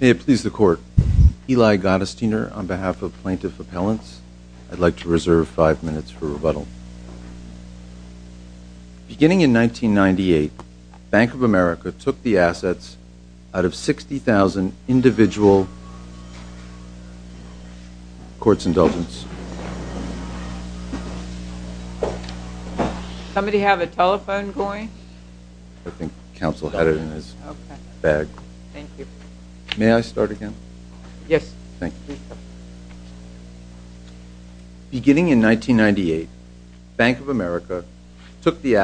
May it please the Court, Eli Gottesdiener on behalf of Plaintiff Appellants. I'd like to reserve five minutes for rebuttal. Beginning in 1998, Bank of America took the assets out of 60,000 individual 401k trust accounts. Beginning in 1998, Bank of America took the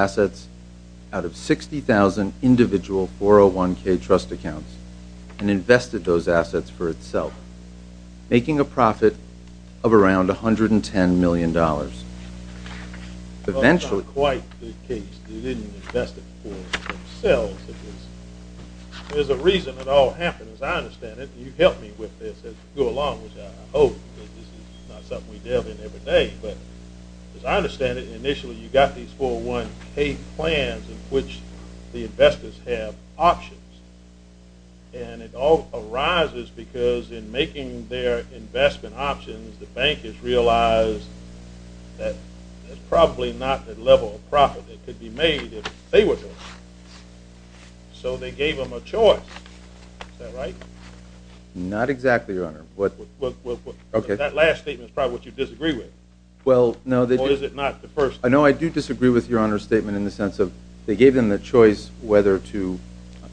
assets for itself, making a profit of around $110 million. Eventually... That's not quite the case. They didn't invest it for themselves. There's a reason it all happened, as I understand it. You've helped me with this as we go along, which I hope, because this is not something we deal with every day. But as I understand it, initially you've got these 401k plans in which the investors have options. And it all arises because in making their investment options, the bank has realized that it's probably not the level of profit that could be made if they were doing it. So they gave them a choice. Is that right? Not exactly, Your Honor. That last statement is probably what you disagree with. Well, no... Or is it not the first? No, I do disagree with Your Honor's statement in the sense of they gave them the choice whether to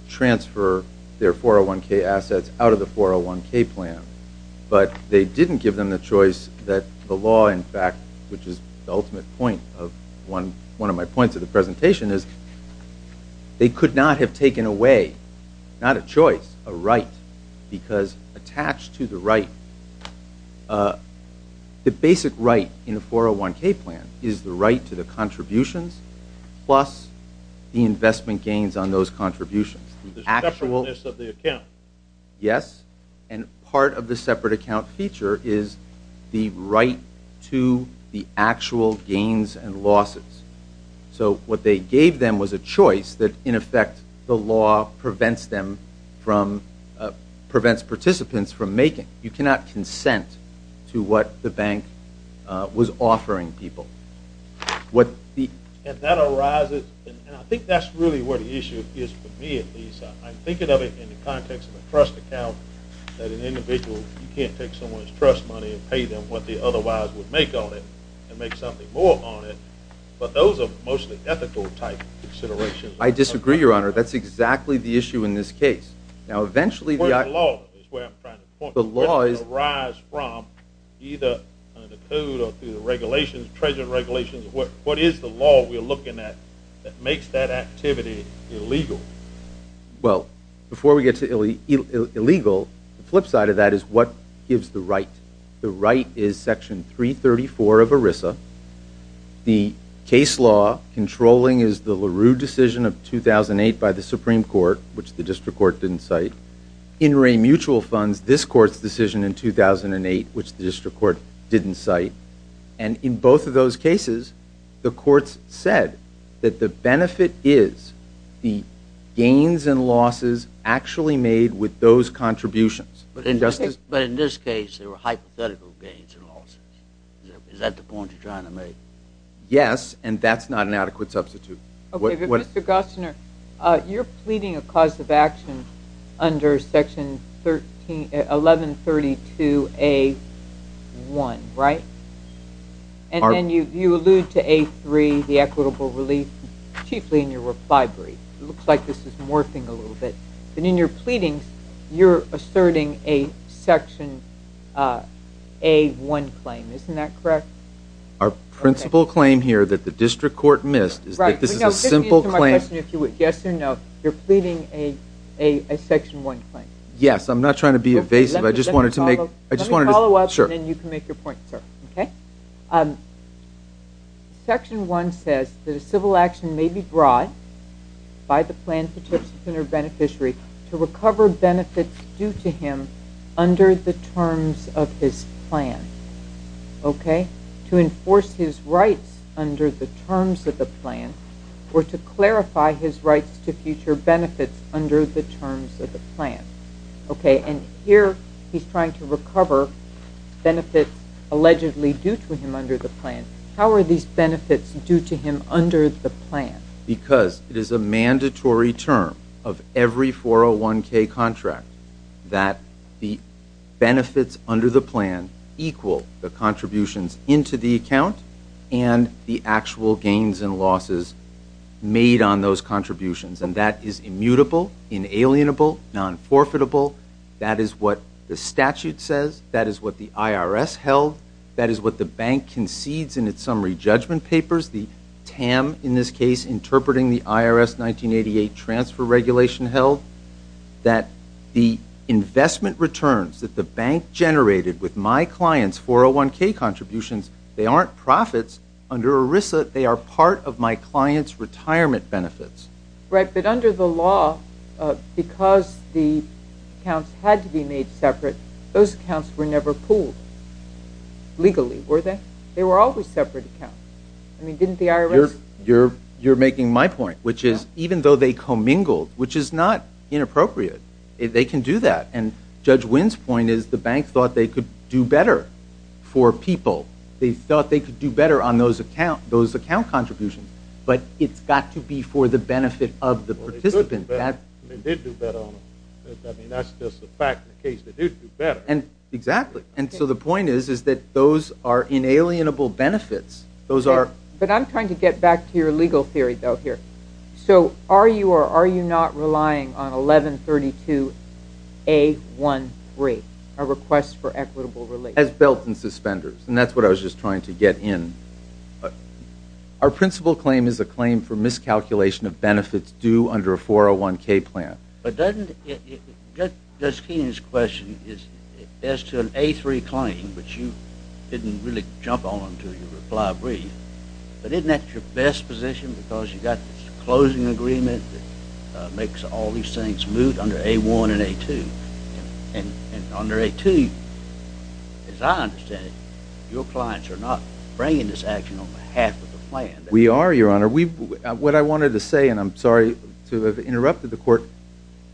transfer their 401k assets out of the 401k plan. But they didn't give them the choice that the law, in fact, which is the ultimate point of one of my points of the presentation, is they could not have taken away, not a choice, a right. Because attached to the right, the basic right in a 401k plan is the right to the contributions plus the investment gains on those contributions. The separateness of the account. Yes. And part of the separate account feature is the right to the actual gains and losses. So what they gave them was a choice that, in effect, the law prevents them from, prevents participants from making, you cannot consent to what the bank was offering people. And that arises, and I think that's really where the issue is for me at least. I'm thinking of it in the context of a trust account that an individual, you can't take someone's trust money and pay them what they otherwise would make on it and make something more on it. But those are mostly ethical type considerations. I disagree, Your Honor. That's exactly the issue in this case. The point of the law is where I'm trying to point. The law is... Where does it arise from, either under the code or through the regulations, treasurer regulations, what is the law we're looking at that makes that activity illegal? Well, before we get to illegal, the flip side of that is what gives the right. The right is Section 334 of ERISA. The case law controlling is the LaRue decision of 2008 by the Supreme Court, which the district court didn't cite. In re-mutual funds, this court's decision in 2008, which the district court didn't cite. And in both of those cases, the courts said that the benefit is the gains and losses actually made with those contributions. But in this case, there were hypothetical gains and losses. Is that the point you're trying to make? Yes, and that's not an adequate substitute. Okay, but Mr. Gosner, you're pleading a cause of action under Section 1132A1, right? And then you allude to A3, the equitable relief, chiefly in your reply brief. It looks like this is morphing a little bit. But in your pleadings, you're asserting a Section A1 claim. Isn't that correct? Our principal claim here that the district court missed is that this is a simple claim. Yes or no, you're pleading a Section 1 claim. Yes, I'm not trying to be evasive. I just wanted to make... Let me follow up and then you can make your point, sir. Okay. Section 1 says that a civil action may be brought by the plaintiff's beneficiary to recover benefits due to him under the terms of his plan. Okay? To enforce his rights under the terms of the plan or to clarify his rights to future benefits under the terms of the plan. Okay, and here he's trying to recover benefits allegedly due to him under the plan. How are these benefits due to him under the plan? Because it is a mandatory term of every 401k contract that the benefits under the plan equal the contributions into the account and the actual gains and losses made on those contributions. And that is immutable, inalienable, non-forfeitable. That is what the statute says. That is what the IRS held. That is what the bank concedes in its summary judgment papers, the TAM in this case interpreting the IRS 1988 transfer regulation held, that the investment returns that the bank generated with my client's 401k contributions, they aren't profits. Under ERISA, they are part of my client's retirement benefits. Right, but under the law, because the accounts had to be made separate, those accounts were never pooled legally, were they? They were always separate accounts. I mean, didn't the IRS? You're making my point, which is even though they commingled, which is not inappropriate, they can do that. And Judge Wynn's point is the bank thought they could do better for people. They thought they could do better on those account contributions, but it's got to be for the benefit of the participant. They did do better on them. I mean, that's just the fact of the case. They did do better. Exactly. And so the point is that those are inalienable benefits. But I'm trying to get back to your legal theory, though, here. So are you or are you not relying on 1132A13, a request for equitable relief? As belt and suspenders, and that's what I was just trying to get in. Our principal claim is a claim for miscalculation of benefits due under a 401k plan. But doesn't, Judge Keenan's question is as to an A3 claim, which you didn't really jump on until your reply briefed, but isn't that your best position because you've got this closing agreement that makes all these things moot under A1 and A2? And under A2, as I understand it, your clients are not bringing this action on behalf of the plan. We are, Your Honor. What I wanted to say, and I'm sorry to have interrupted the court,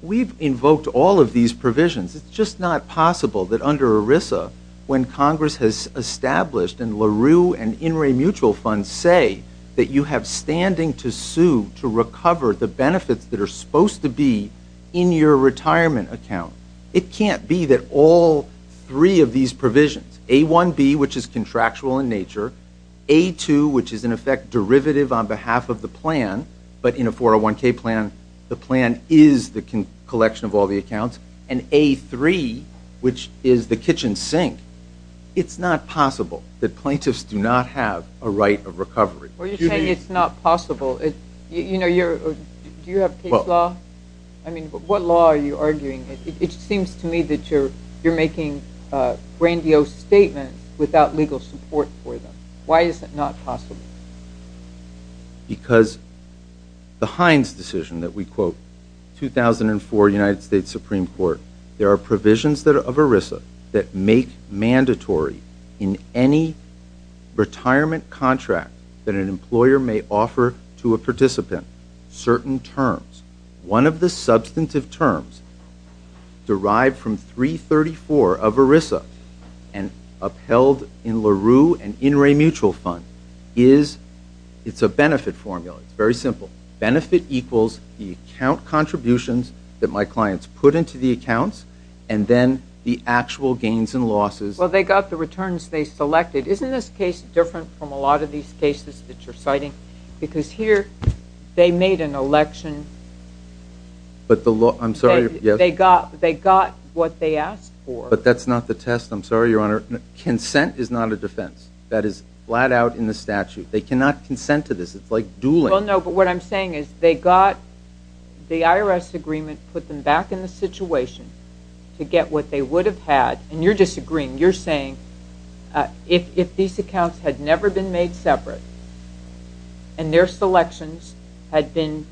we've invoked all of these provisions. It's just not possible that under ERISA, when Congress has established and LaRue and In Re Mutual funds say that you have standing to sue to recover the benefits that are supposed to be in your retirement account. It can't be that all three of these provisions, A1B, which is contractual in nature, A2, which is in effect derivative on behalf of the plan, but in a 401k plan, the plan is the collection of all the accounts, and A3, which is the kitchen sink. It's not possible that plaintiffs do not have a right of recovery. Well, you're saying it's not possible. Do you have case law? I mean, what law are you Why is it not possible? Because the Hines decision that we quote, 2004 United States Supreme Court, there are provisions of ERISA that make mandatory in any retirement contract that an employer may offer to a participant certain terms. One of the substantive terms derived from 334 of ERISA and upheld in LaRue and In Re Mutual fund is, it's a benefit formula. It's very simple. Benefit equals the account contributions that my clients put into the accounts, and then the actual gains and losses. Well, they got the returns they selected. Isn't this case different from a lot of these cases that you're citing? Because here, they made an election. But the law, I'm sorry. They got what they asked for. But that's not the test. I'm sorry, Your Honor. Consent is not a defense. That is flat out in the statute. They cannot consent to this. It's like dueling. Well, no, but what I'm saying is they got the IRS agreement, put them back in the situation to get what they would have had, and you're disagreeing. You're saying if these accounts had never been made separate and their selections had been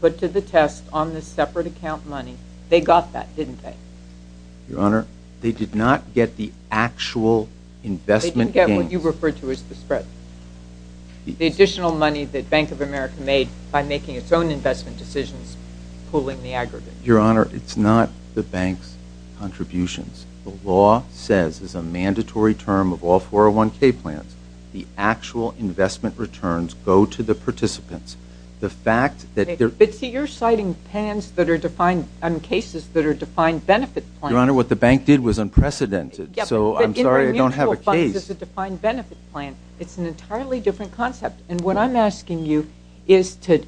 put to the test on the separate account money, they got that, didn't they? Your Honor, they did not get the actual investment gains. They didn't get what you referred to as the spread. The additional money that Bank of America made by making its own investment decisions pooling the aggregate. Your Honor, it's not the bank's contributions. The law says it's a mandatory term of all 401k plans. The actual investment returns go to the participants. But see, you're citing cases that are defined benefit plans. Your Honor, what the bank did was unprecedented. So I'm sorry, I don't have a case. It's a defined benefit plan. It's an entirely different concept. And what I'm asking you is to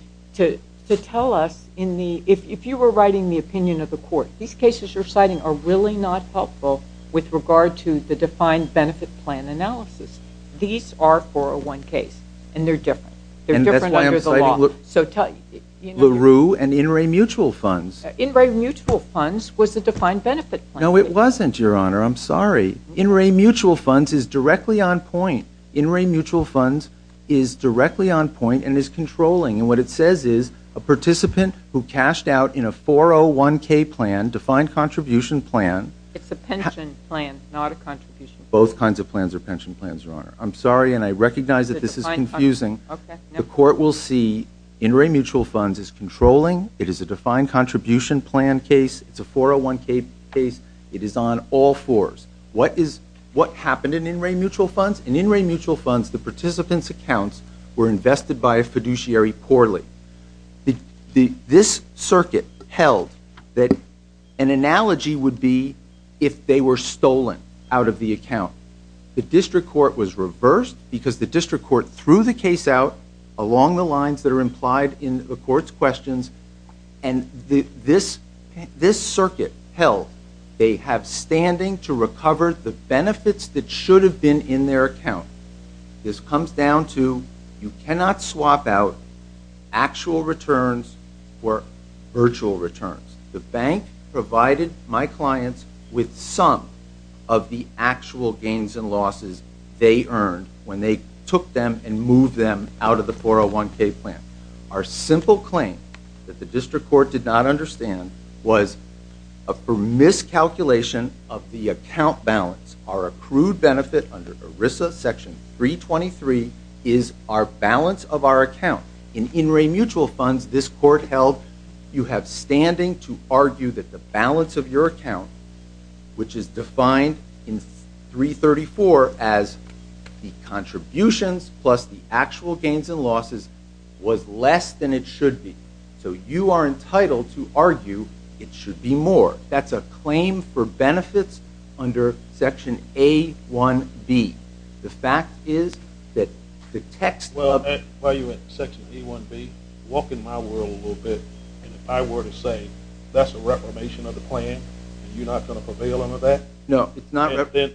tell us, if you were writing the opinion of the court, these cases you're citing are really not helpful with regard to the defined benefit plan analysis. These are 401ks, and they're different. They're different under the law. And that's why I'm citing LaRue and In Re Mutual Funds. In Re Mutual Funds was a defined benefit plan. No, it wasn't, Your Honor. I'm sorry. In Re Mutual Funds is directly on point. In Re Mutual Funds is directly on point and is controlling. And what it says is a participant who cashed out in a 401k plan, defined contribution plan. It's a pension plan, not a contribution plan. Both kinds of plans are pension plans, Your Honor. I'm sorry, and I recognize that this is confusing. The court will see In Re Mutual Funds is controlling. It is a defined contribution plan case. It's a 401k case. It is on all fours. What happened in In Re Mutual Funds? In In Re Mutual Funds, the participants' accounts were invested by a fiduciary poorly. This circuit held that an analogy would be if they were stolen out of the account. The district court was reversed because the district court threw the case out along the lines that are implied in the court's questions. And this circuit held they have standing to recover the benefits that should have been in their account. This comes down to you cannot swap out actual returns for virtual returns. The bank provided my clients with some of the actual gains and losses they earned when they took them and moved them out of the 401k plan. Our simple claim that the district court did not understand was a miscalculation of the account balance. Our accrued benefit under ERISA section 323 is our balance of our account. In In Re Mutual Funds, this court held you have standing to argue that the balance of your account, which is defined in 334 as the contributions plus the actual gains and losses, was less than it should be. So you are entitled to argue it should be more. That's a claim for benefits under section A1B. The fact is that the text of Well, while you're at section A1B, walk in my world a little bit. And if I were to say that's a reformation of the plan, you're not going to prevail on that? No, it's not Then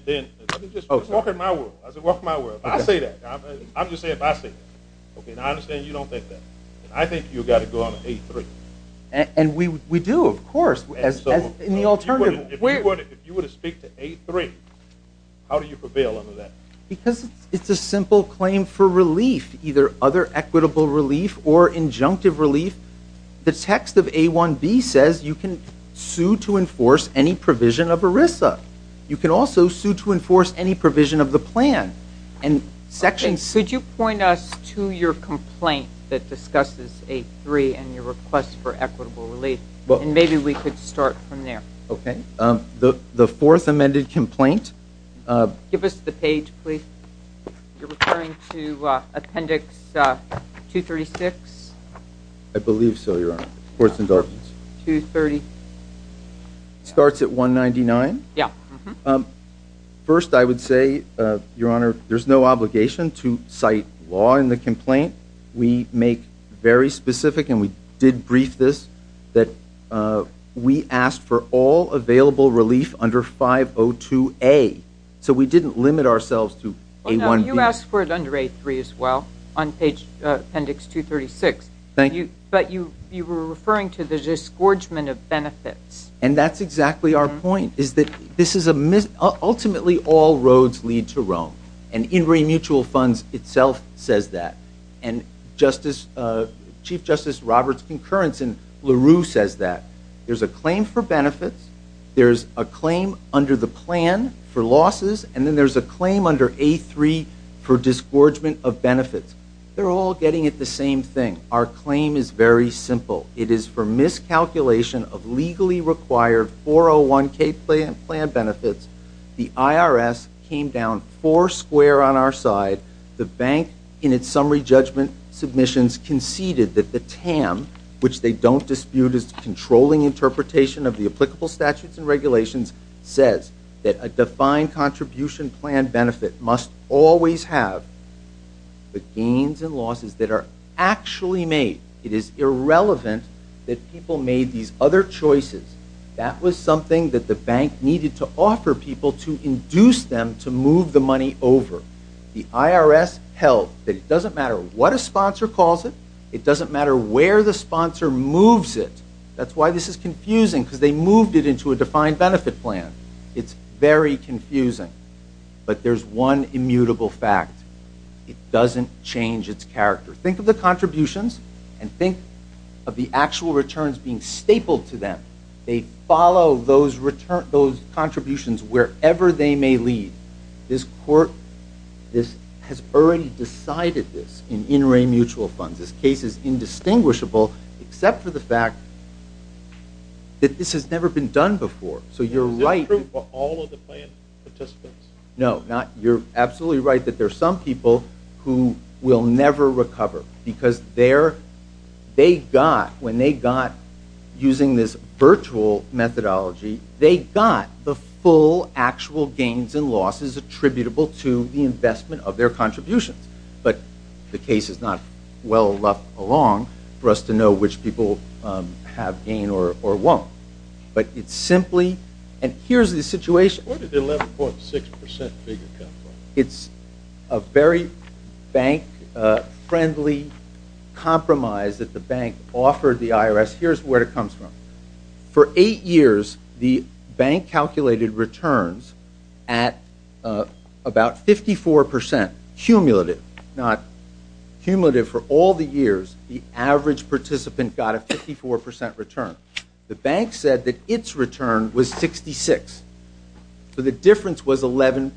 let me just walk in my world. I say walk in my world. I say that. I'm just saying if I say that. Okay, now I understand you don't think that. And we do, of course. If you were to speak to A3, how do you prevail under that? Because it's a simple claim for relief, either other equitable relief or injunctive relief. The text of A1B says you can sue to enforce any provision of ERISA. You can also sue to enforce any provision of the plan. Could you point us to your complaint that discusses A3 and your request for equitable relief? And maybe we could start from there. Okay. The fourth amended complaint Give us the page, please. You're referring to appendix 236? I believe so, Your Honor. It starts at 199? Yeah. First, I would say, Your Honor, there's no obligation to cite law in the complaint. We make very specific, and we did brief this, that we asked for all available relief under 502A. So we didn't limit ourselves to A1B. You asked for it under A3 as well, on appendix 236. Thank you. But you were referring to the disgorgement of benefits. And that's exactly our point, is that this is ultimately all roads lead to Rome. And Ingray Mutual Funds itself says that. And Chief Justice Roberts' concurrence in LaRue says that. There's a claim for benefits. There's a claim under the plan for losses. And then there's a claim under A3 for disgorgement of benefits. They're all getting at the same thing. Our claim is very simple. It is for miscalculation of legally required 401k plan benefits. The IRS came down four square on our side. The bank, in its summary judgment submissions, conceded that the TAM, which they don't dispute as controlling interpretation of the applicable statutes and regulations, says that a defined contribution plan benefit must always have the gains and losses that are actually made. It is irrelevant that people made these other choices. That was something that the bank needed to offer people to induce them to move the money over. The IRS held that it doesn't matter what a sponsor calls it. It doesn't matter where the sponsor moves it. That's why this is confusing, because they moved it into a defined benefit plan. It's very confusing. But there's one immutable fact. It doesn't change its character. Think of the contributions and think of the actual returns being stapled to them. They follow those contributions wherever they may lead. This court has already decided this in in-ray mutual funds. This case is indistinguishable except for the fact that this has never been done before. So you're right. Is this true for all of the plan participants? No. You're absolutely right that there are some people who will never recover, because when they got, using this virtual methodology, they got the full actual gains and losses attributable to the investment of their contributions. But the case is not well left alone for us to know which people have gained or won't. But it's simply, and here's the situation. Where did the 11.6% figure come from? It's a very bank-friendly compromise that the bank offered the IRS. Here's where it comes from. For eight years, the bank calculated returns at about 54%, cumulative. Not cumulative for all the years. The average participant got a 54% return. The bank said that its return was 66%. So the difference was 11%.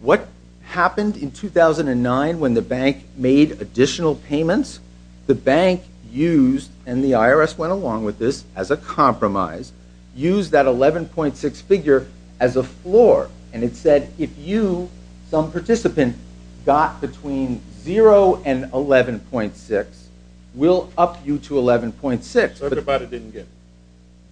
What happened in 2009 when the bank made additional payments? The bank used, and the IRS went along with this as a compromise, used that 11.6 figure as a floor. And it said if you, some participant, got between 0 and 11.6, we'll up you to 11.6. Everybody didn't get it.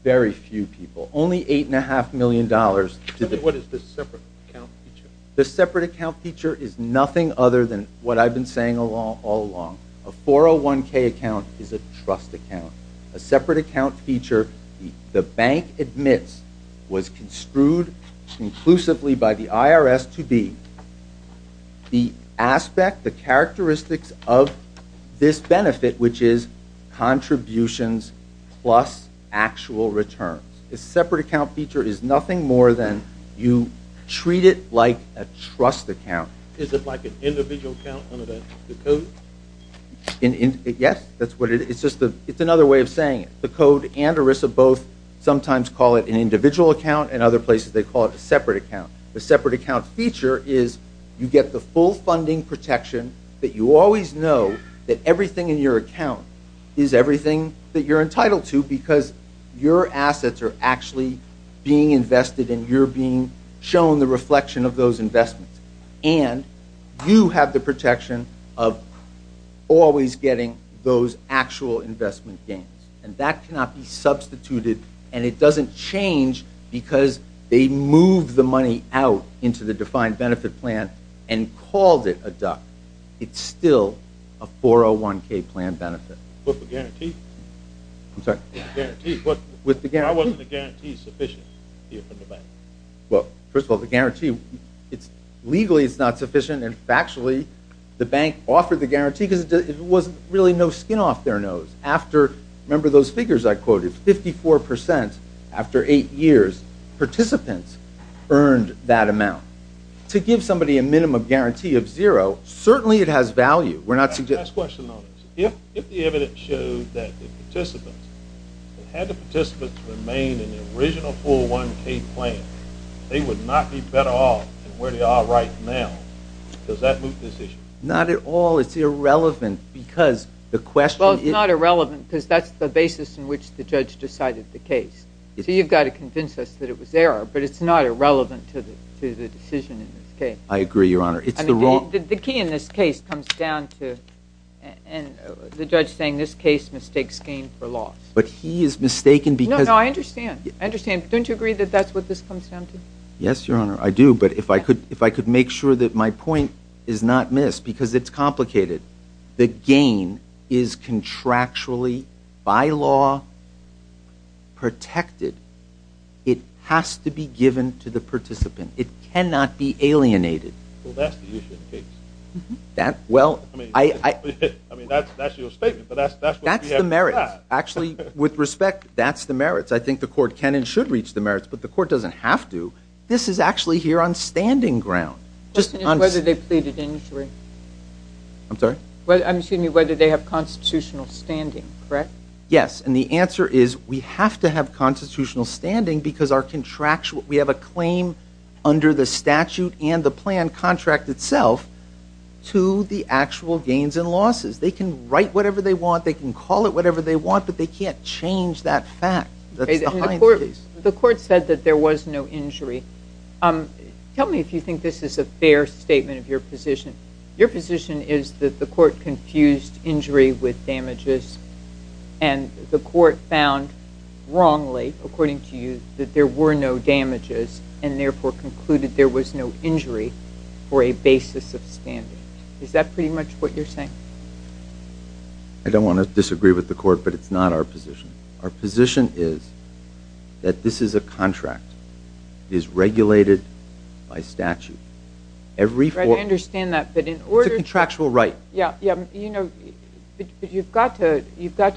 Very few people. Only $8.5 million. What is the separate account feature? The separate account feature is nothing other than what I've been saying all along. A 401k account is a trust account. A separate account feature, the bank admits, was construed conclusively by the IRS to be the aspect, the characteristics of this benefit, which is contributions plus actual returns. The separate account feature is nothing more than you treat it like a trust account. Is it like an individual account under the code? Yes. It's another way of saying it. The code and ERISA both sometimes call it an individual account, and other places they call it a separate account. The separate account feature is you get the full funding protection that you always know that everything in your account is everything that you're entitled to because your assets are actually being invested and you're being shown the reflection of those investments. And you have the protection of always getting those actual investment gains. And that cannot be substituted, and it doesn't change because they moved the money out into the defined benefit plan and called it a duck. It's still a 401k plan benefit. With the guarantee? I'm sorry? With the guarantee. Why wasn't the guarantee sufficient here from the bank? Well, first of all, the guarantee, legally it's not sufficient, and factually the bank offered the guarantee because there was really no skin off their nose. After, remember those figures I quoted, 54% after eight years, participants earned that amount. To give somebody a minimum guarantee of zero, certainly it has value. Last question on this. If the evidence showed that the participants, had the participants remained in the original 401k plan, they would not be better off than where they are right now. Does that move this issue? Not at all. It's irrelevant because the question is. Well, it's not irrelevant because that's the basis in which the judge decided the case. So you've got to convince us that it was error, but it's not irrelevant to the decision in this case. I agree, Your Honor. The key in this case comes down to the judge saying this case mistakes gain for loss. But he is mistaken because. No, no, I understand. I understand. Don't you agree that that's what this comes down to? Yes, Your Honor, I do. But if I could make sure that my point is not missed because it's complicated. The gain is contractually by law protected. It has to be given to the participant. It cannot be alienated. Well, that's the issue in the case. Well, I. I mean, that's your statement, but that's what we have to ask. That's the merits. Actually, with respect, that's the merits. I think the court can and should reach the merits, but the court doesn't have to. This is actually here on standing ground. The question is whether they pleaded injury. I'm sorry? Excuse me, whether they have constitutional standing, correct? Yes, and the answer is we have to have constitutional standing because our contractual. We have a claim under the statute and the plan contract itself to the actual gains and losses. They can write whatever they want. They can call it whatever they want, but they can't change that fact. That's the Heinz case. The court said that there was no injury. Tell me if you think this is a fair statement of your position. Your position is that the court confused injury with damages, and the court found wrongly, according to you, that there were no damages and therefore concluded there was no injury for a basis of standing. Is that pretty much what you're saying? I don't want to disagree with the court, but it's not our position. Our position is that this is a contract. It is regulated by statute. I understand that. It's a contractual right. You've got to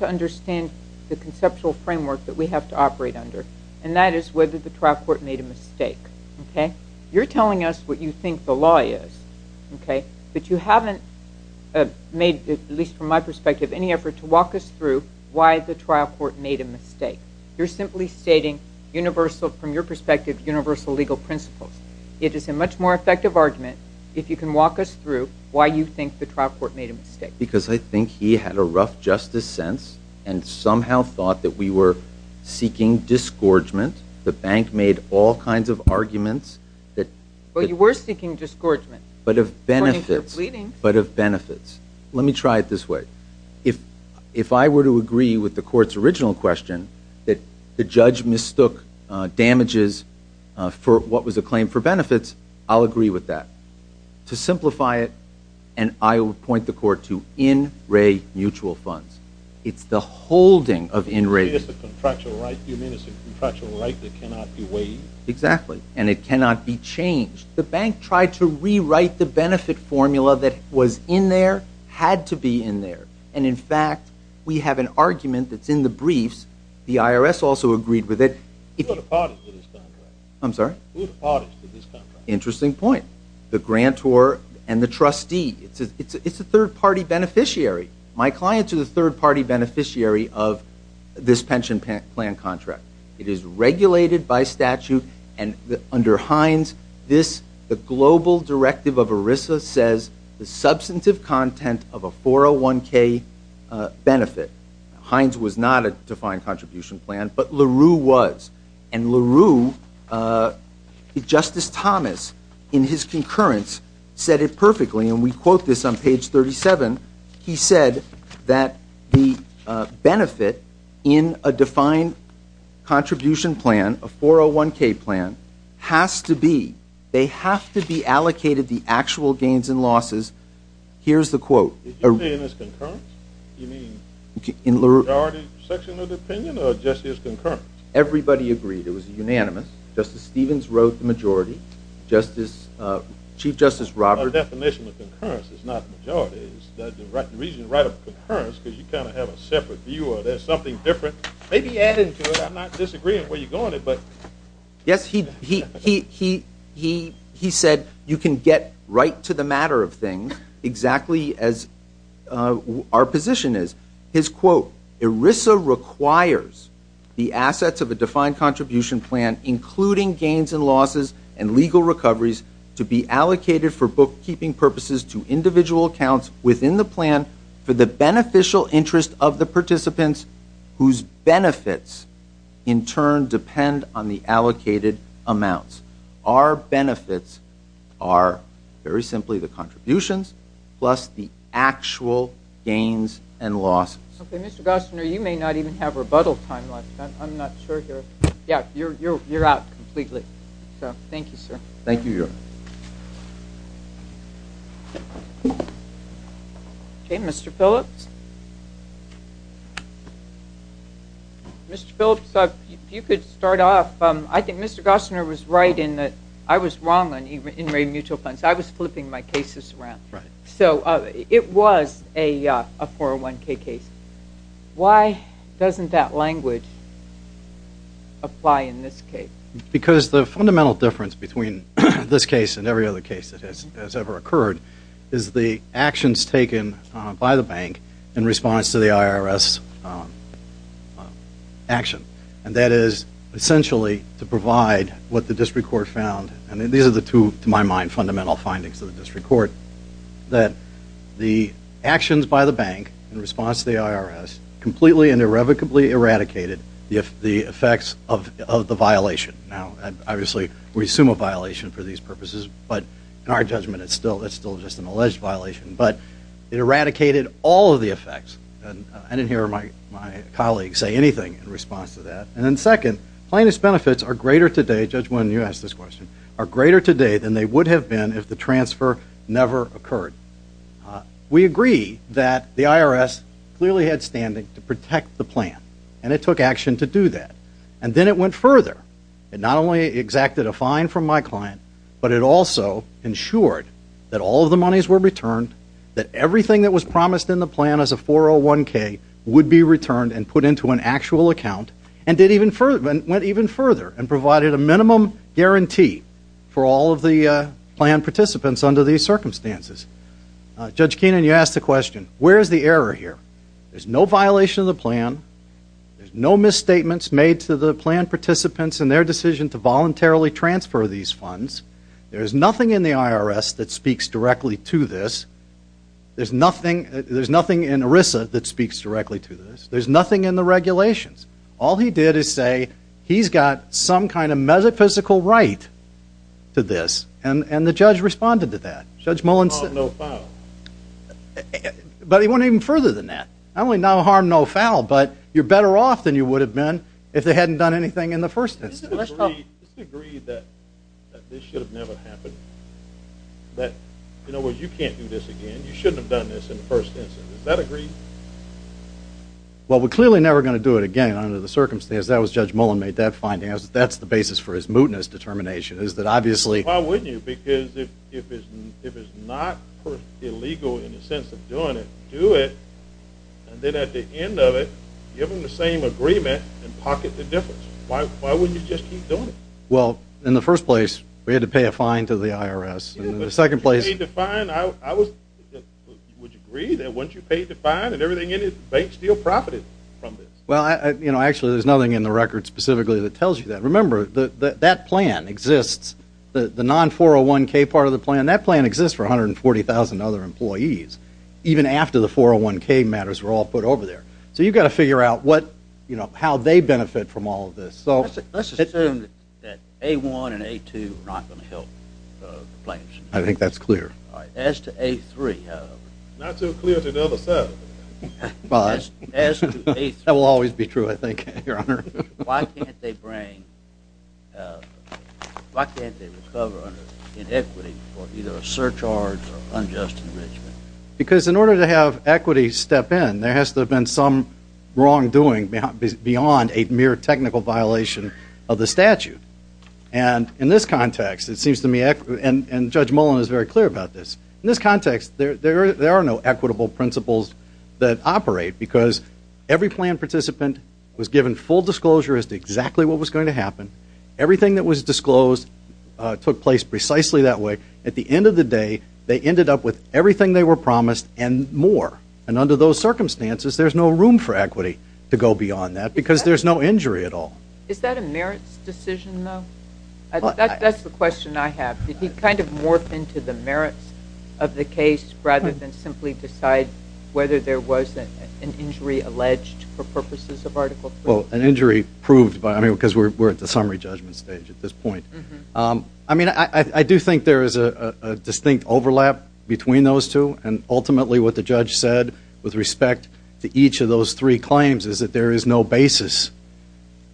understand the conceptual framework that we have to operate under, and that is whether the trial court made a mistake. You're telling us what you think the law is, but you haven't made, at least from my perspective, any effort to walk us through why the trial court made a mistake. You're simply stating, from your perspective, universal legal principles. It is a much more effective argument if you can walk us through why you think the trial court made a mistake. Because I think he had a rough justice sense and somehow thought that we were seeking disgorgement. The bank made all kinds of arguments. Well, you were seeking disgorgement. But of benefits. But of benefits. Let me try it this way. If I were to agree with the court's original question, that the judge mistook damages for what was a claim for benefits, I'll agree with that. To simplify it, and I will point the court to in-ray mutual funds. It's the holding of in-ray. You mean it's a contractual right that cannot be waived. Exactly, and it cannot be changed. The bank tried to rewrite the benefit formula that was in there, had to be in there. And, in fact, we have an argument that's in the briefs. The IRS also agreed with it. Who are the parties to this contract? I'm sorry? Who are the parties to this contract? Interesting point. The grantor and the trustee. It's a third-party beneficiary. My clients are the third-party beneficiary of this pension plan contract. It is regulated by statute, and under Hines, the global directive of ERISA says the substantive content of a 401K benefit. Hines was not a defined contribution plan, but LaRue was. And LaRue, Justice Thomas, in his concurrence, said it perfectly, and we quote this on page 37. He said that the benefit in a defined contribution plan, a 401K plan, has to be, they have to be allocated the actual gains and losses. Here's the quote. You're saying it's concurrence? You mean the majority section of the opinion or just as concurrence? Everybody agreed it was unanimous. Justice Stevens wrote the majority. Chief Justice Roberts. Our definition of concurrence is not majority. The reason you write up concurrence is because you kind of have a separate view or there's something different. Maybe add into it. I'm not disagreeing with where you're going with it. Yes, he said you can get right to the matter of things exactly as our position is. His quote, ERISA requires the assets of a defined contribution plan, including gains and losses and legal recoveries, to be allocated for bookkeeping purposes to individual accounts within the plan for the beneficial interest of the participants whose benefits in turn depend on the allocated amounts. Our benefits are very simply the contributions plus the actual gains and losses. Okay, Mr. Gosner, you may not even have rebuttal time left. I'm not sure here. Yeah, you're out completely. Thank you, sir. Thank you, Your Honor. Okay, Mr. Phillips. Mr. Phillips, if you could start off. I think Mr. Gosner was right in that I was wrong on in-rate mutual funds. I was flipping my cases around. Right. So it was a 401k case. Why doesn't that language apply in this case? Because the fundamental difference between this case and every other case that has ever occurred is the actions taken by the bank in response to the IRS action, and that is essentially to provide what the district court found, and these are the two, to my mind, fundamental findings of the district court, that the actions by the bank in response to the IRS completely and irrevocably eradicated the effects of the violation. Now, obviously, we assume a violation for these purposes, but in our judgment it's still just an alleged violation. But it eradicated all of the effects, and I didn't hear my colleague say anything in response to that. And then second, plaintiff's benefits are greater today, Judge Winn, you asked this question, than they would have been if the transfer never occurred. We agree that the IRS clearly had standing to protect the plan, and it took action to do that. And then it went further. It not only exacted a fine from my client, but it also ensured that all of the monies were returned, that everything that was promised in the plan as a 401k would be returned and put into an actual account, and went even further and provided a minimum guarantee for all of the plan participants under these circumstances. Judge Keenan, you asked the question, where is the error here? There's no violation of the plan. There's no misstatements made to the plan participants in their decision to voluntarily transfer these funds. There's nothing in the IRS that speaks directly to this. There's nothing in ERISA that speaks directly to this. There's nothing in the regulations. All he did is say he's got some kind of metaphysical right to this, and the judge responded to that. Judge Mullins said... No harm, no foul. But he went even further than that. Not only no harm, no foul, but you're better off than you would have been if they hadn't done anything in the first instance. Let's agree that this should have never happened, that you can't do this again, you shouldn't have done this in the first instance. Does that agree? Well, we're clearly never going to do it again under the circumstances. That was Judge Mullin made that finding. That's the basis for his mootness determination, is that obviously... Why wouldn't you? Because if it's not illegal in the sense of doing it, do it. And then at the end of it, give them the same agreement and pocket the difference. Why wouldn't you just keep doing it? Well, in the first place, we had to pay a fine to the IRS. And in the second place... Would you agree that once you paid the fine and everything in it, the bank still profited from this? Well, actually, there's nothing in the record specifically that tells you that. Remember, that plan exists. The non-401k part of the plan, that plan exists for 140,000 other employees, even after the 401k matters were all put over there. So you've got to figure out how they benefit from all of this. Let's assume that A1 and A2 are not going to help the plans. I think that's clear. All right, as to A3, however... Not too clear to the other side of it. As to A3... That will always be true, I think, Your Honor. Why can't they bring... Why can't they recover under inequity for either a surcharge or unjust enrichment? Because in order to have equity step in, there has to have been some wrongdoing beyond a mere technical violation of the statute. And in this context, it seems to me... And Judge Mullen is very clear about this. In this context, there are no equitable principles that operate because every plan participant was given full disclosure as to exactly what was going to happen. Everything that was disclosed took place precisely that way. At the end of the day, they ended up with everything they were promised and more. And under those circumstances, there's no room for equity to go beyond that because there's no injury at all. Is that a merits decision, though? That's the question I have. Did he kind of morph into the merits of the case rather than simply decide whether there was an injury alleged for purposes of Article III? Well, an injury proved by... I mean, because we're at the summary judgment stage at this point. I mean, I do think there is a distinct overlap between those two, and ultimately what the judge said with respect to each of those three claims is that there is no basis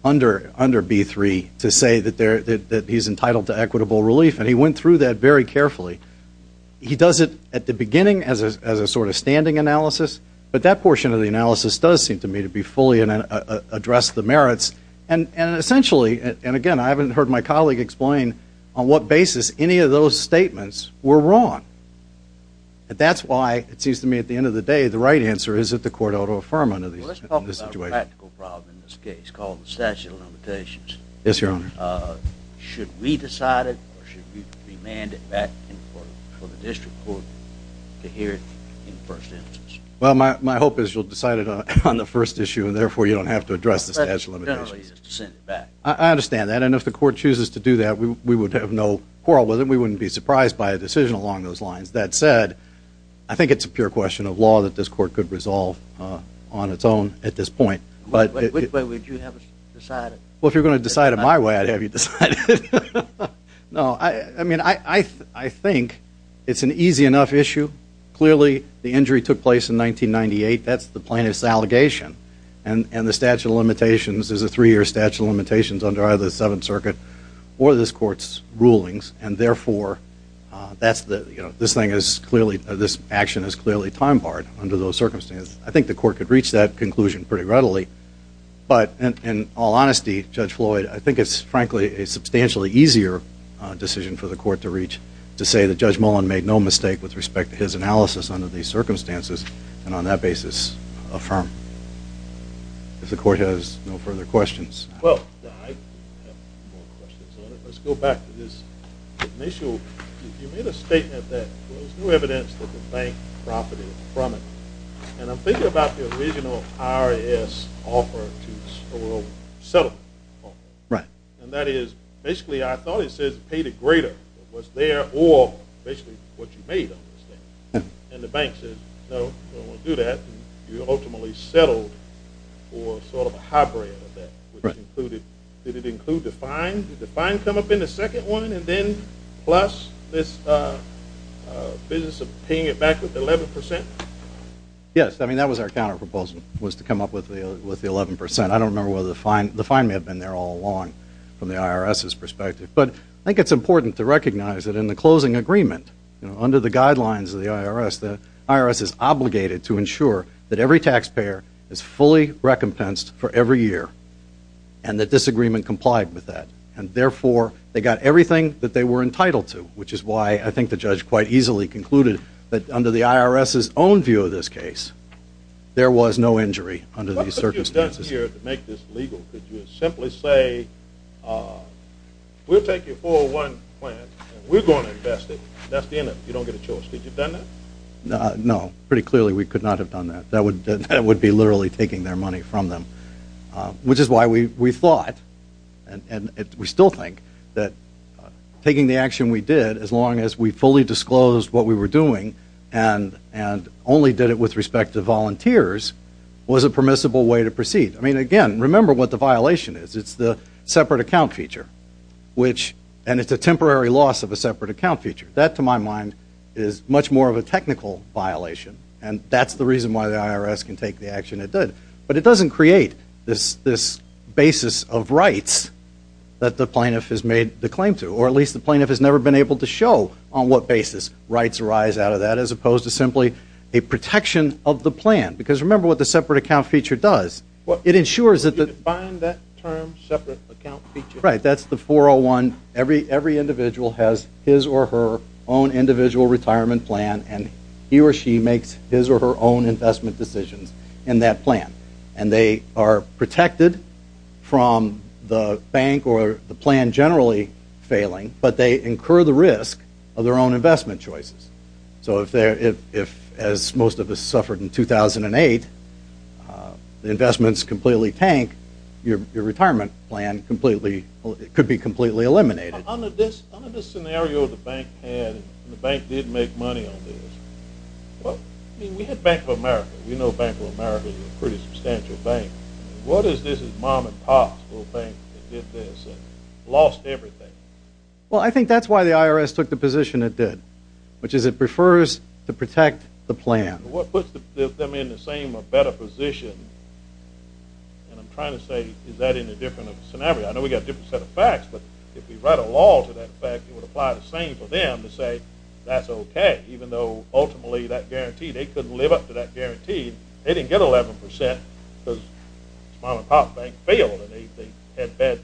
under B-3 to say that he's entitled to equitable relief, and he went through that very carefully. He does it at the beginning as a sort of standing analysis, but that portion of the analysis does seem to me to be fully addressed the merits. And essentially, and again, I haven't heard my colleague explain on what basis any of those statements were wrong. That's why it seems to me at the end of the day the right answer is that the court ought to affirm under the situation. Let's talk about a practical problem in this case called the statute of limitations. Yes, Your Honor. Should we decide it, or should we demand it back for the district court to hear it in the first instance? Well, my hope is you'll decide it on the first issue, and therefore you don't have to address the statute of limitations. I understand that, and if the court chooses to do that, we would have no quarrel with it. We wouldn't be surprised by a decision along those lines. That said, I think it's a pure question of law that this court could resolve on its own at this point. Which way would you have us decide it? Well, if you're going to decide it my way, I'd have you decide it. I think it's an easy enough issue. Clearly, the injury took place in 1998. That's the plaintiff's allegation, and the statute of limitations is a three-year statute of limitations under either the Seventh Circuit or this court's rulings, and therefore this action is clearly time-barred under those circumstances. I think the court could reach that conclusion pretty readily, but in all honesty, Judge Floyd, I think it's frankly a substantially easier decision for the court to reach to say that Judge Mullen made no mistake with respect to his analysis under these circumstances, and on that basis affirm. If the court has no further questions. Well, I have a few more questions on it. Let's go back to this initial. You made a statement that there was no evidence that the bank profited from it, and I'm thinking about the original IRS offer to settle. Right. And that is basically I thought it says paid it greater. It was there or basically what you made under the statute, and the bank says, no, we don't want to do that, and you ultimately settled for sort of a hybrid of that. Right. Did it include the fine? Did the fine come up in the second one, and then plus this business of paying it back with 11 percent? Yes. I mean, that was our counterproposal was to come up with the 11 percent. I don't remember whether the fine may have been there all along from the IRS's perspective, but I think it's important to recognize that in the closing agreement, you know, under the guidelines of the IRS, the IRS is obligated to ensure that every taxpayer is fully recompensed for every year and that disagreement complied with that, and therefore they got everything that they were entitled to, which is why I think the judge quite easily concluded that under the IRS's own view of this case, there was no injury under these circumstances. What have you done here to make this legal? Could you simply say, we'll take your 401 plan, and we're going to invest it, and that's the end of it. You don't get a choice. Could you have done that? No. Pretty clearly we could not have done that. That would be literally taking their money from them, which is why we thought, and we still think, that taking the action we did as long as we fully disclosed what we were doing and only did it with respect to volunteers was a permissible way to proceed. I mean, again, remember what the violation is. It's the separate account feature, and it's a temporary loss of a separate account feature. That, to my mind, is much more of a technical violation, and that's the reason why the IRS can take the action it did. But it doesn't create this basis of rights that the plaintiff has made the claim to, or at least the plaintiff has never been able to show on what basis rights arise out of that as opposed to simply a protection of the plan. Because remember what the separate account feature does. You define that term separate account feature. Right. That's the 401. Every individual has his or her own individual retirement plan, and he or she makes his or her own investment decisions in that plan. And they are protected from the bank or the plan generally failing, but they incur the risk of their own investment choices. So if, as most of us suffered in 2008, the investments completely tank, your retirement plan could be completely eliminated. Under this scenario the bank had, and the bank did make money on this, we had Bank of America. We know Bank of America is a pretty substantial bank. What is this mom-and-pop little bank that did this and lost everything? Well, I think that's why the IRS took the position it did, which is it prefers to protect the plan. What puts them in the same or better position, and I'm trying to say is that in a different scenario. I know we've got a different set of facts, but if we write a law to that effect it would apply the same for them to say that's okay even though ultimately that guarantee, they couldn't live up to that guarantee. They didn't get 11% because mom-and-pop bank failed and they had bad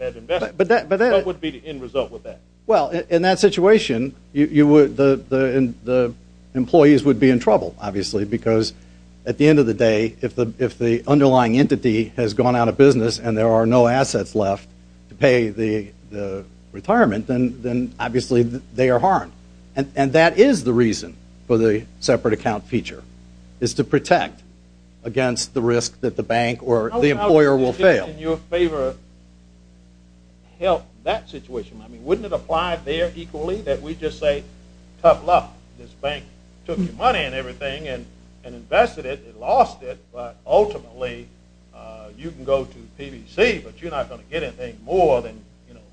investments. What would be the end result with that? Well, in that situation the employees would be in trouble, obviously, because at the end of the day if the underlying entity has gone out of business and there are no assets left to pay the retirement, then obviously they are harmed. And that is the reason for the separate account feature, is to protect against the risk that the bank or the employer will fail. Would that, in your favor, help that situation? I mean, wouldn't it apply there equally that we just say tough luck, this bank took your money and everything and invested it and lost it, but ultimately you can go to the PBC, but you're not going to get anything more than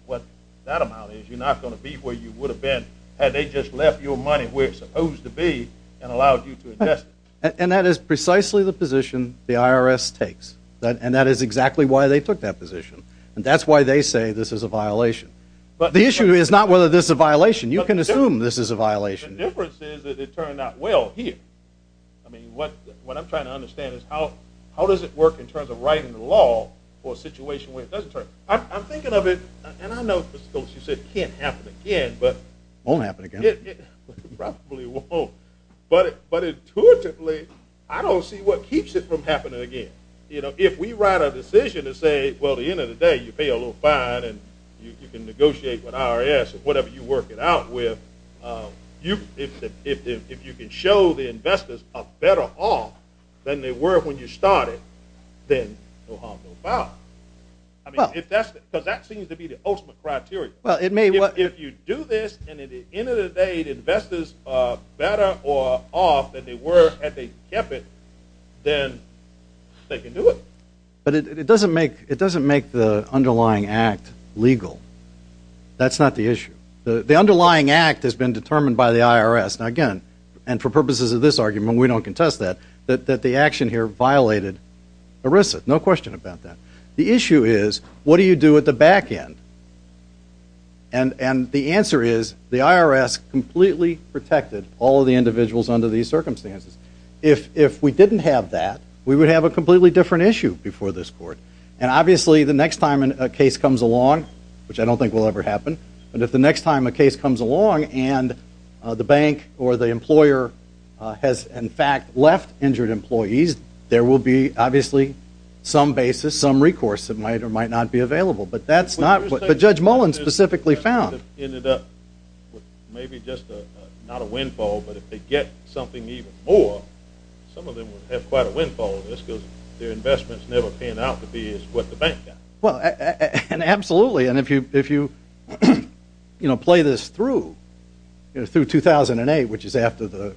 what that amount is. You're not going to be where you would have been had they just left your money where it's supposed to be and allowed you to invest it. And that is precisely the position the IRS takes, and that is exactly why they took that position. And that's why they say this is a violation. But the issue is not whether this is a violation. You can assume this is a violation. The difference is that it turned out well here. I mean, what I'm trying to understand is how does it work in terms of writing the law for a situation where it doesn't turn out. I'm thinking of it, and I know, Mr. Coates, you said it can't happen again. It won't happen again. It probably won't. But intuitively, I don't see what keeps it from happening again. If we write a decision to say, well, at the end of the day, you pay a little fine and you can negotiate with IRS or whatever you work it out with, if you can show the investors a better off than they were when you started, then no harm, no foul. Because that seems to be the ultimate criteria. Well, if you do this, and at the end of the day, the investors are better off than they were if they kept it, then they can do it. But it doesn't make the underlying act legal. That's not the issue. The underlying act has been determined by the IRS. Now, again, and for purposes of this argument, we don't contest that, that the action here violated ERISA. No question about that. The issue is, what do you do at the back end? And the answer is, the IRS completely protected all of the individuals under these circumstances. If we didn't have that, we would have a completely different issue before this court. And obviously, the next time a case comes along, which I don't think will ever happen, but if the next time a case comes along and the bank or the employer has, in fact, left injured employees, there will be obviously some basis, some recourse that might or might not be available. But that's not what Judge Mullen specifically found. Maybe just not a windfall, but if they get something even more, some of them would have quite a windfall on this because their investments never pan out to be what the bank got. Well, absolutely. And if you play this through, through 2008, which is after the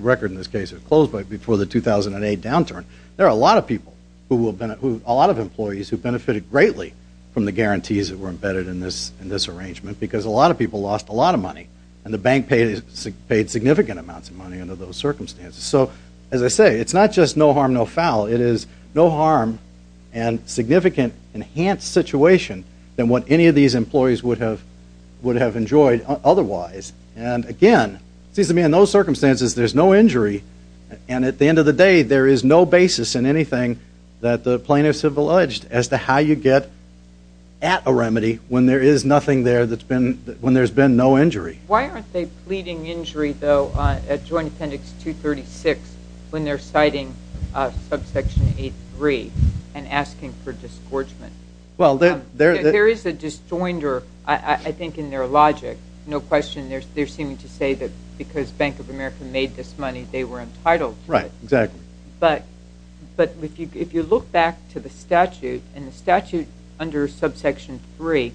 record in this case is closed, quite before the 2008 downturn, there are a lot of people who will benefit, a lot of employees who benefited greatly from the guarantees that were embedded in this arrangement because a lot of people lost a lot of money and the bank paid significant amounts of money under those circumstances. So, as I say, it's not just no harm, no foul. It is no harm and significant enhanced situation than what any of these employees would have enjoyed otherwise. And, again, it seems to me in those circumstances there's no injury and at the end of the day there is no basis in anything that the plaintiffs have alleged as to how you get at a remedy when there is nothing there when there's been no injury. Why aren't they pleading injury, though, at Joint Appendix 236 when they're citing Subsection 8.3 and asking for disgorgement? Well, there is a disjoinder, I think, in their logic. No question. They're seeming to say that because Bank of America made this money they were entitled to it. Right, exactly. But if you look back to the statute, and the statute under Subsection 3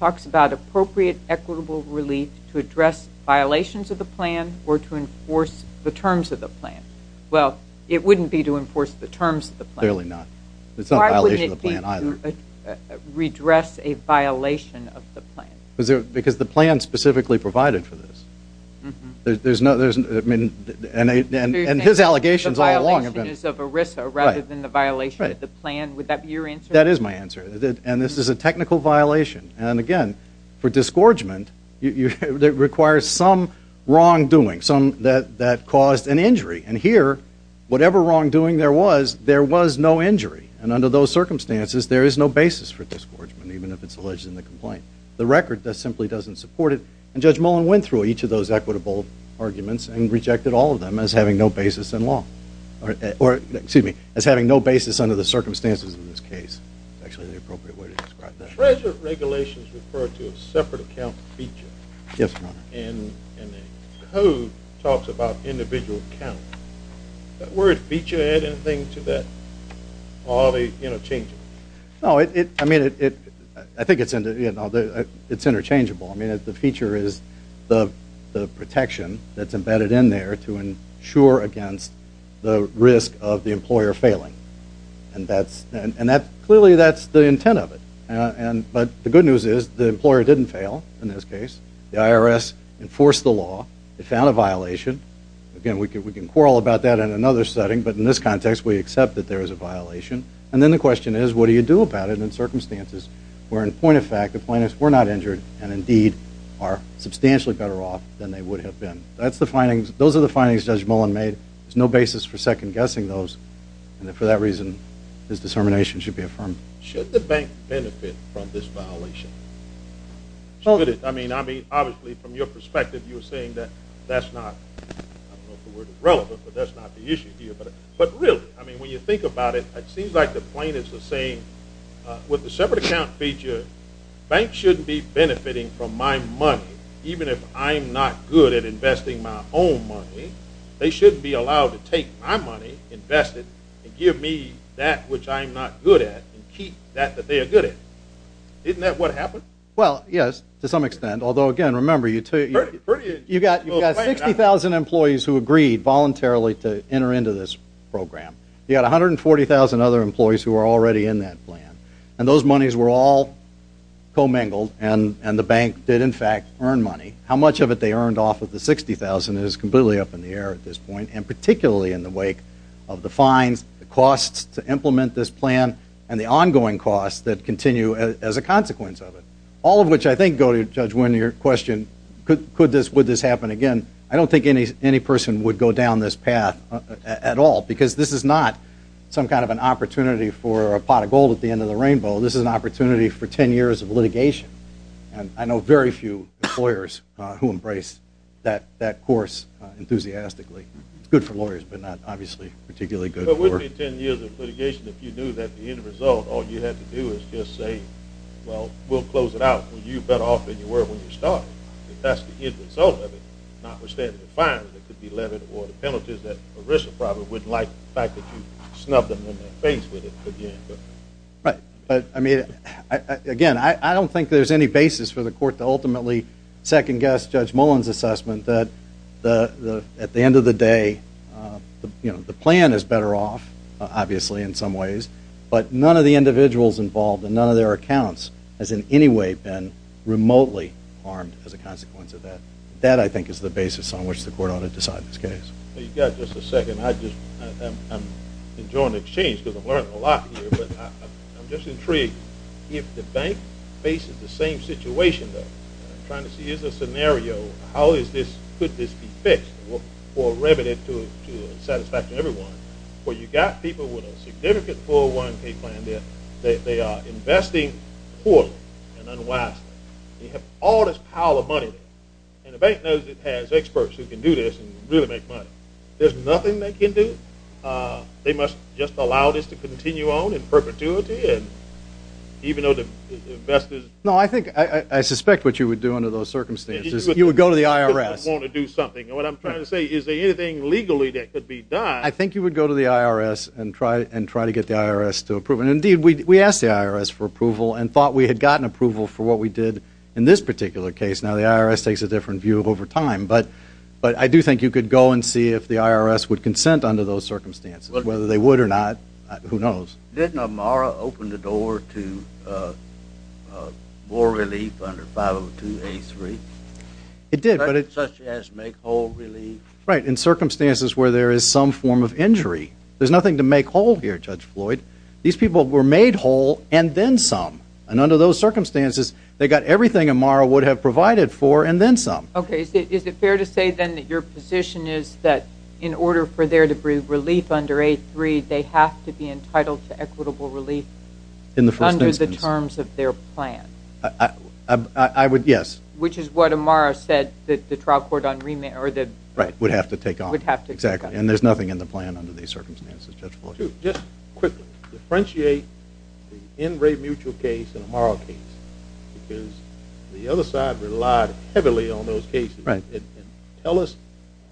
talks about appropriate equitable relief to address violations of the plan or to enforce the terms of the plan. Well, it wouldn't be to enforce the terms of the plan. Fairly not. It's not a violation of the plan either. Why would it be to redress a violation of the plan? Because the plan specifically provided for this. And his allegations all along have been. The violation is of ERISA rather than the violation of the plan. Would that be your answer? That is my answer. And this is a technical violation. And, again, for disgorgement it requires some wrongdoing that caused an injury. And here, whatever wrongdoing there was, there was no injury. And under those circumstances there is no basis for disgorgement even if it's alleged in the complaint. The record simply doesn't support it. And Judge Mullen went through each of those equitable arguments and rejected all of them as having no basis in law. Or, excuse me, as having no basis under the circumstances of this case. That's actually the appropriate way to describe that. Treasure regulations refer to a separate account feature. Yes, Your Honor. And the code talks about individual account. That word feature add anything to that? Are they interchangeable? I think it's interchangeable. The feature is the protection that's embedded in there to ensure against the risk of the employer failing. And clearly that's the intent of it. But the good news is the employer didn't fail in this case. The IRS enforced the law. It found a violation. Again, we can quarrel about that in another setting, but in this context we accept that there is a violation. And then the question is what do you do about it in circumstances where, in point of fact, the plaintiffs were not injured and indeed are substantially better off than they would have been. Those are the findings Judge Mullen made. There's no basis for second-guessing those. And for that reason, his discernment should be affirmed. Should the bank benefit from this violation? Should it? I mean, obviously, from your perspective, you're saying that that's not, I don't know if the word is relevant, but that's not the issue here. But really, I mean, when you think about it, it seems like the plaintiffs are saying, with the separate account feature, banks shouldn't be benefiting from my money even if I'm not good at investing my own money. They shouldn't be allowed to take my money, invest it, and give me that which I'm not good at and keep that that they are good at. Isn't that what happened? Well, yes, to some extent. Although, again, remember, you've got 60,000 employees who agreed voluntarily to enter into this program. You've got 140,000 other employees who are already in that plan. And those monies were all commingled, and the bank did, in fact, earn money. How much of it they earned off of the 60,000 is completely up in the air at this point, and particularly in the wake of the fines, the costs to implement this plan, and the ongoing costs that continue as a consequence of it, all of which I think go to, Judge Winn, your question, would this happen again? I don't think any person would go down this path at all because this is not some kind of an opportunity for a pot of gold at the end of the rainbow. This is an opportunity for 10 years of litigation. And I know very few lawyers who embrace that course enthusiastically. It's good for lawyers, but not, obviously, particularly good for... But wouldn't it be 10 years of litigation if you knew that the end result, all you had to do is just say, well, we'll close it out. Well, you bet off in your work when you start. If that's the end result of it, notwithstanding the fines that could be levied or the penalties that Marissa probably wouldn't like, the fact that you snubbed them in the face with it again. Right. But, I mean, again, I don't think there's any basis for the court to ultimately second-guess Judge Mullen's assessment that at the end of the day, the plan is better off, obviously, in some ways, but none of the individuals involved and none of their accounts has in any way been remotely harmed as a consequence of that. That, I think, is the basis on which the court ought to decide this case. You've got just a second. I'm enjoying the exchange because I'm learning a lot here, but I'm just intrigued. If the bank faces the same situation, though, and I'm trying to see, is there a scenario, how could this be fixed for revenue to satisfy everyone? Well, you've got people with a significant 401k plan there. They are investing poorly and unwisely. They have all this power of money, and the bank knows it has experts who can do this and really make money. There's nothing they can do. They must just allow this to continue on in perpetuity, even though the investors… No, I suspect what you would do under those circumstances is you would go to the IRS. …want to do something. What I'm trying to say, is there anything legally that could be done… I think you would go to the IRS and try to get the IRS to approve it. Indeed, we asked the IRS for approval and thought we had gotten approval for what we did in this particular case. Now, the IRS takes a different view over time, but I do think you could go and see if the IRS would consent under those circumstances. Whether they would or not, who knows. Didn't Amara open the door to more relief under 502A3? It did, but… Such as make whole relief? Right, in circumstances where there is some form of injury. There's nothing to make whole here, Judge Floyd. These people were made whole, and then some. And under those circumstances, they got everything Amara would have provided for, and then some. Okay, is it fair to say then that your position is that in order for there to be relief under A3, they have to be entitled to equitable relief under the terms of their plan? I would, yes. Which is what Amara said that the trial court on remand… Right, would have to take on. Would have to take on. Exactly, and there's nothing in the plan under these circumstances, Judge Floyd. Just quickly, differentiate the in-rate mutual case and Amara case, because the other side relied heavily on those cases. And tell us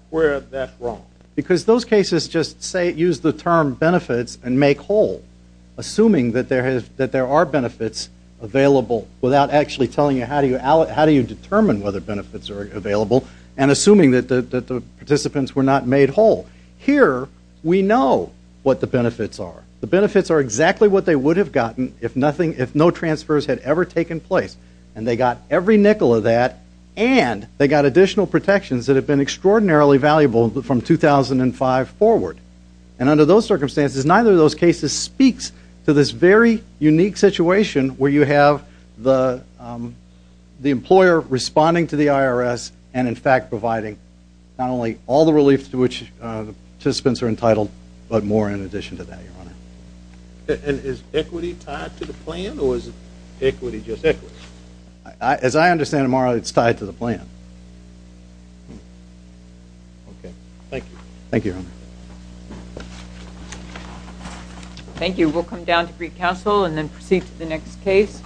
where that's wrong. Because those cases just use the term benefits and make whole, assuming that there are benefits available without actually telling you how do you determine whether benefits are available, and assuming that the participants were not made whole. Here, we know what the benefits are. The benefits are exactly what they would have gotten if no transfers had ever taken place. And they got every nickel of that, and they got additional protections that have been extraordinarily valuable from 2005 forward. And under those circumstances, neither of those cases speaks to this very unique situation where you have the employer responding to the IRS and, in fact, providing not only all the relief to which the participants are entitled, but more in addition to that, Your Honor. And is equity tied to the plan, or is equity just equity? As I understand, Amara, it's tied to the plan. Okay, thank you. Thank you, Your Honor. Thank you. We'll come down to Greek Council and then proceed to the next case.